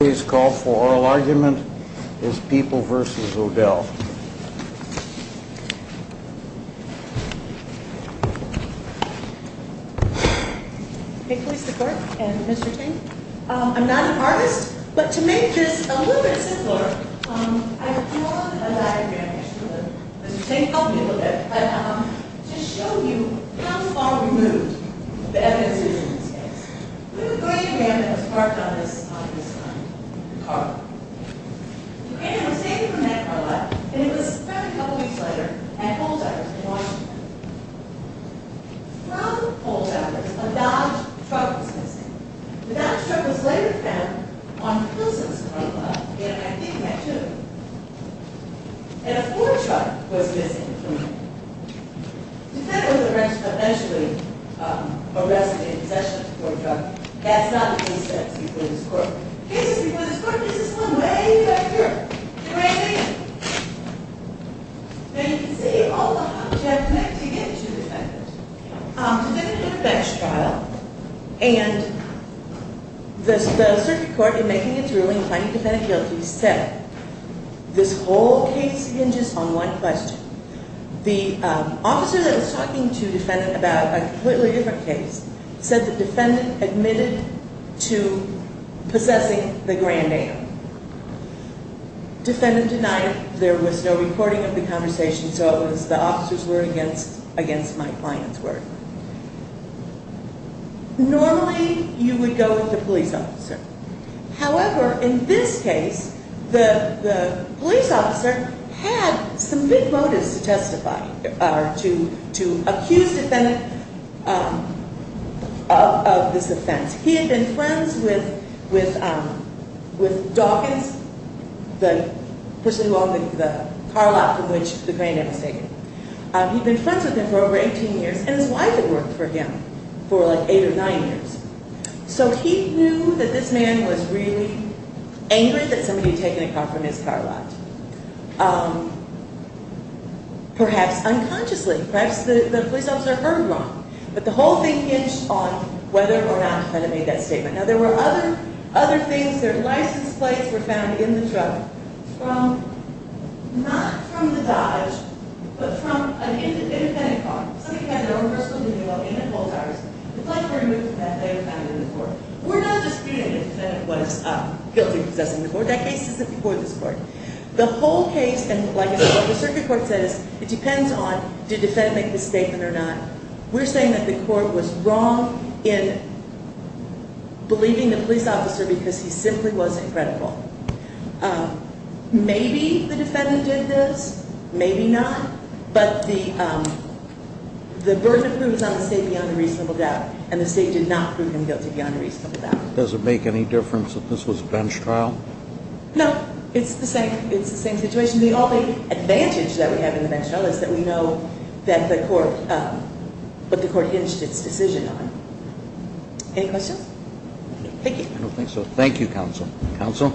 Today's call for oral argument is People v. O'Dell Today's call for oral argument is People v. O'Dell The circuit court in making its ruling, finding the defendant guilty, said this whole case hinges on one question. The officer that was talking to the defendant about a completely different case said the defendant admitted to possessing the Grand Am. Defendant denied it. There was no recording of the conversation, so it was the officer's word against my client's word. Normally, you would go with the police officer. However, in this case, the police officer had some big motives to testify or to accuse the defendant of this offense. He had been friends with Dawkins, the person who owned the car lot from which the Grand Am was taken. He'd been friends with him for over 18 years, and his wife had worked for him for like eight or nine years. So he knew that this man was really angry that somebody had taken a car from his car lot, perhaps unconsciously. Perhaps the police officer heard wrong, but the whole thing hinged on whether or not the defendant made that statement. Now, there were other things. Their license plates were found in the truck, not from the Dodge, but from an independent car. Somebody had their own personal vehicle in their car. The plates were removed from that and they were found in the car. We're not disputing the defendant was guilty of possessing the car. That case isn't before this court. The whole case, and like the circuit court says, it depends on did the defendant make the statement or not. We're saying that the court was wrong in believing the police officer because he simply wasn't credible. Maybe the defendant did this, maybe not, but the burden of proof is on the state beyond a reasonable doubt, and the state did not prove him guilty beyond a reasonable doubt. Does it make any difference that this was a bench trial? No, it's the same situation. The only advantage that we have in the bench trial is that we know what the court hinged its decision on. Any questions? Thank you. I don't think so. Thank you, counsel. Counsel?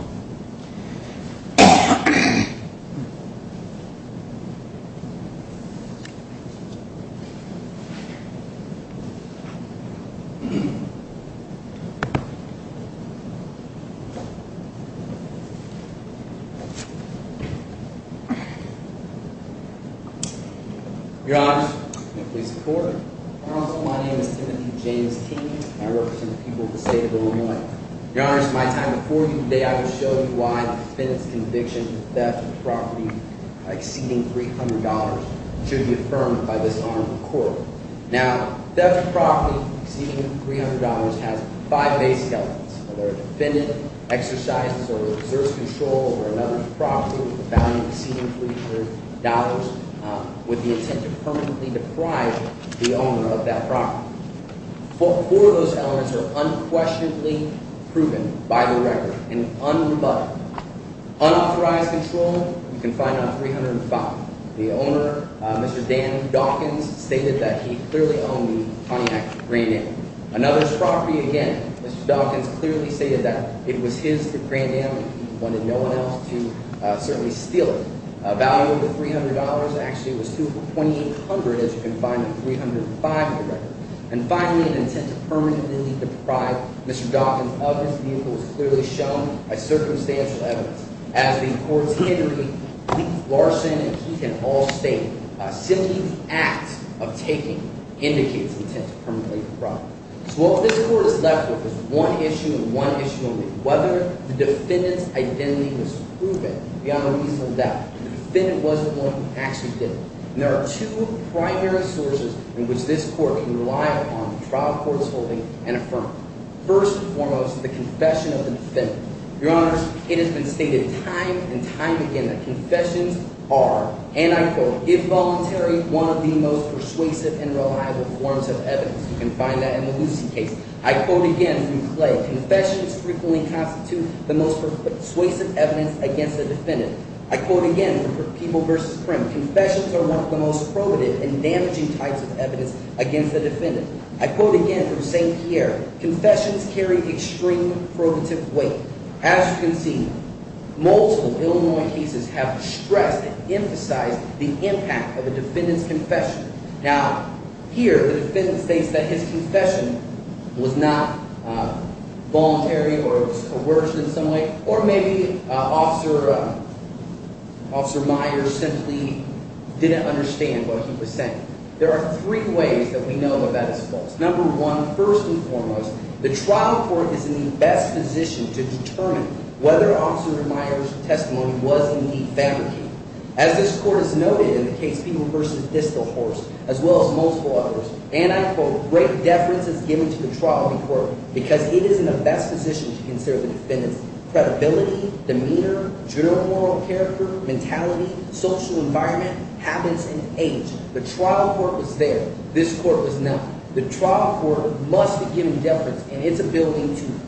Your Honor, I'm a police reporter. My name is Timothy James King. I represent the people of the state of Illinois. Your Honor, it's my time before you today. I will show you why the defendant's conviction of theft of property exceeding $300 should be affirmed by this arm of the court. Now, theft of property exceeding $300 has five basic elements. A defendant exercises or exerts control over another property with a value exceeding $300 with the intent to permanently deprive the owner of that property. Four of those elements are unquestionably proven by the record and un-rebutted. Unauthorized control, you can find on 305. The owner, Mr. Dan Dawkins, stated that he clearly owned the Pontiac Grand Am. Another property, again, Mr. Dawkins clearly stated that it was his, the Grand Am, and he wanted no one else to certainly steal it. A value of $300 actually was $2,800, as you can find on 305 in the record. And finally, an intent to permanently deprive Mr. Dawkins of his vehicle was clearly shown by circumstantial evidence. As the court's handler, Lee Larson, and he can all state, simply the act of taking indicates intent to permanently deprive. So what this court is left with is one issue and one issue only, whether the defendant's identity was proven beyond a reasonable doubt. The defendant wasn't the one who actually did it. And there are two primary sources in which this court can rely upon the trial court's holding and affirming. First and foremost, the confession of the defendant. Your Honors, it has been stated time and time again that confessions are, and I quote, involuntary, one of the most persuasive and reliable forms of evidence. You can find that in the Lucy case. I quote again from Clay, confessions frequently constitute the most persuasive evidence against the defendant. I quote again from People v. Prim, confessions are one of the most probative and damaging types of evidence against the defendant. I quote again from St. Pierre, confessions carry extreme probative weight. As you can see, multiple Illinois cases have stressed and emphasized the impact of a defendant's confession. Now, here, the defendant states that his confession was not voluntary or it was coerced in some way, or maybe Officer Myers simply didn't understand what he was saying. There are three ways that we know that that is false. Number one, first and foremost, the trial court is in the best position to determine whether Officer Myers' testimony was indeed fabricated. As this court has noted in the case People v. Distelhorst, as well as multiple others, and I quote, great deference is given to the trial court because it is in the best position to consider the defendant's credibility, demeanor, general moral character, mentality, social environment, habits, and age. The trial court was there. This court was not. The trial court must have given deference in its ability to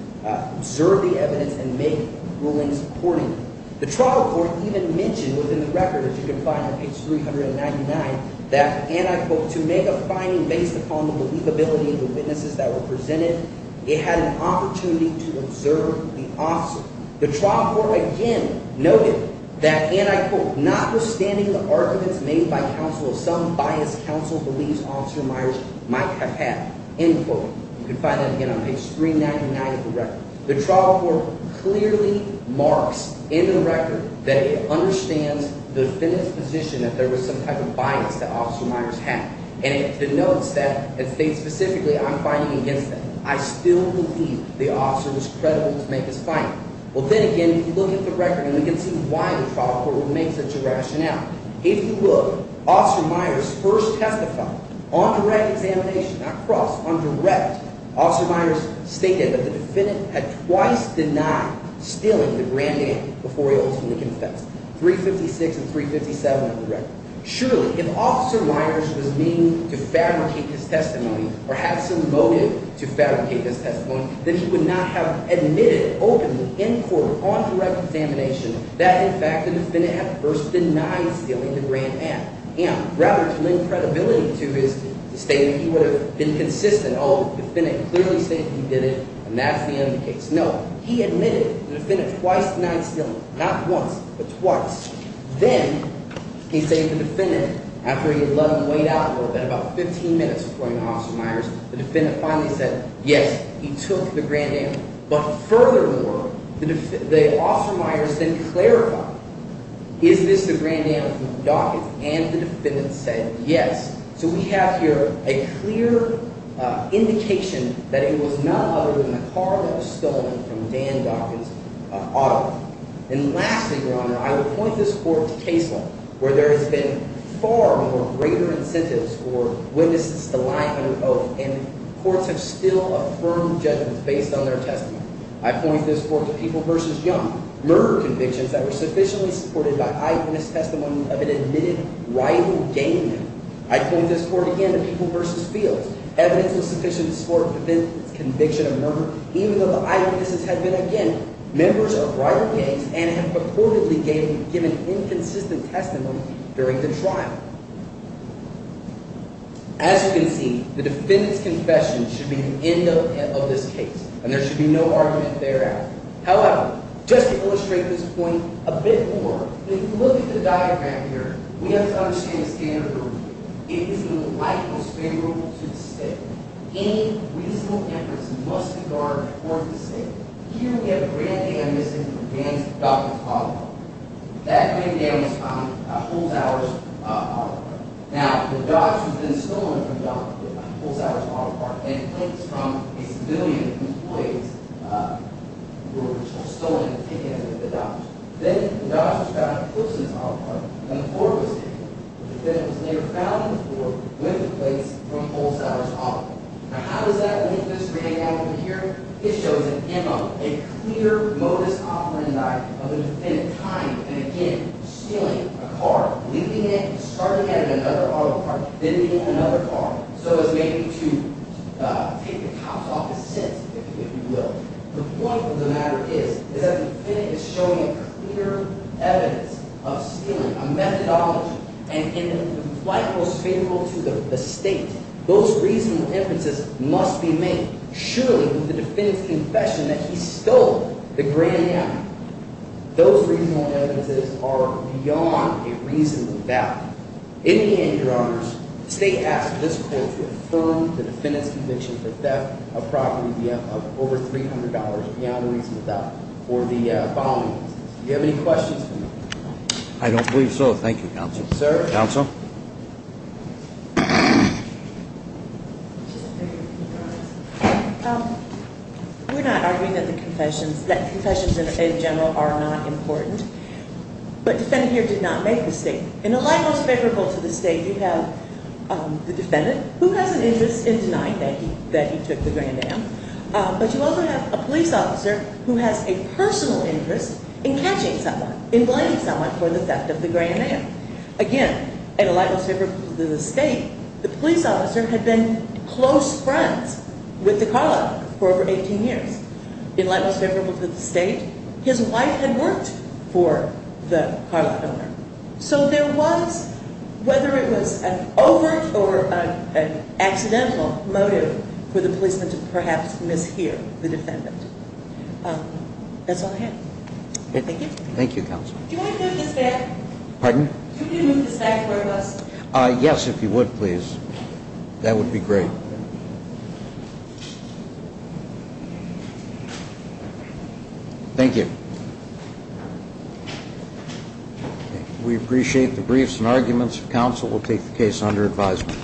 observe the evidence and make rulings accordingly. The trial court even mentioned within the record, as you can find on page 399, that, and I quote, to make a finding based upon the believability of the witnesses that were presented, it had an opportunity to observe the officer. The trial court again noted that, and I quote, notwithstanding the arguments made by counsel, some biased counsel believes Officer Myers might have had, end quote. You can find that again on page 399 of the record. The trial court clearly marks in the record that it understands the defendant's position that there was some type of bias that Officer Myers had. And it denotes that it states specifically, I'm finding against them. I still believe the officer was credible to make his finding. Well, then again, if you look at the record, and we can see why the trial court would make such a rationale, if you look, Officer Myers first testified on direct examination, not cross, on direct. Officer Myers stated that the defendant had twice denied stealing the grand am before he ultimately confessed, 356 and 357 of the record. Surely, if Officer Myers was mean to fabricate his testimony or had some motive to fabricate his testimony, then he would not have admitted openly in court on direct examination that, in fact, the defendant had first denied stealing the grand am. Rather, to lend credibility to his statement, he would have been consistent, oh, the defendant clearly stated he did it, and that's the end of the case. No, he admitted to the defendant twice denied stealing, not once, but twice. Then he stated to the defendant, after he had let him wait out a little bit, about 15 minutes before he went to Officer Myers, the defendant finally said, yes, he took the grand am. But furthermore, Officer Myers then clarified, is this the grand am from Dawkins? And the defendant said, yes. So we have here a clear indication that it was none other than the car that was stolen from Dan Dawkins' auto. And lastly, Your Honor, I would point this court to case law, where there has been far more greater incentives for witnesses to lie under oath, and courts have still affirmed judgments based on their testimony. I point this court to People v. Young, murder convictions that were sufficiently supported by eyewitness testimony of an admitted rival gang member. I point this court again to People v. Fields. Evidence was sufficient to support the defendant's conviction of murder, even though the eyewitnesses had been, again, members of rival gangs and had purportedly given inconsistent testimony during the trial. As you can see, the defendant's confession should be the end of this case, and there should be no argument thereafter. However, just to illustrate this point a bit more, if you look at the diagram here, we have to understand the standard rule. It is in the light most favorable to the state. Any reasonable inference must be guarded towards the state. Here we have a grand am missing from Dan Dawkins' auto. That grand am is from Holzhauer's auto. Now, the Dodge was then stolen from Dawkins' with Holzhauer's auto part, and plates from a civilian whose plates were stolen and taken from the Dodge. Then the Dodge was found close to his auto part, and the floor was taken. The defendant was later found on the floor with the plates from Holzhauer's auto. Now, how does that link this reading out over here? It shows an M on it, a clear modus operandi of the defendant's time. And again, stealing a car, leaving it, starting at another auto part, then leaving another car, so as maybe to take the cops off his sins, if you will. The point of the matter is that the defendant is showing a clear evidence of stealing, a methodology. And in the light most favorable to the state, those reasonable inferences must be made. Surely, with the defendant's confession that he stole the grand am, those reasonable evidences are beyond a reasonable doubt. In the end, your honors, the state asks this court to affirm the defendant's conviction for theft of property of over $300 beyond a reasonable doubt for the following reasons. Do you have any questions for me? I don't believe so. Thank you, counsel. Sir? Counsel? We're not arguing that confessions in general are not important, but defendant here did not make the statement. In the light most favorable to the state, you have the defendant, who has an interest in denying that he took the grand am, but you also have a police officer who has a personal interest in catching someone, in blaming someone for the theft of the grand am. Again, in the light most favorable to the state, the police officer had been close friends with the car lot owner for over 18 years. In the light most favorable to the state, his wife had worked for the car lot owner. So there was, whether it was an overt or an accidental motive for the policeman to perhaps mishear the defendant. That's all I have. Thank you. Thank you, counsel. Do you want to move this back? Pardon? Do you want to move this back for us? Yes, if you would, please. That would be great. Thank you. We appreciate the briefs and arguments. Counsel will take the case under advisement.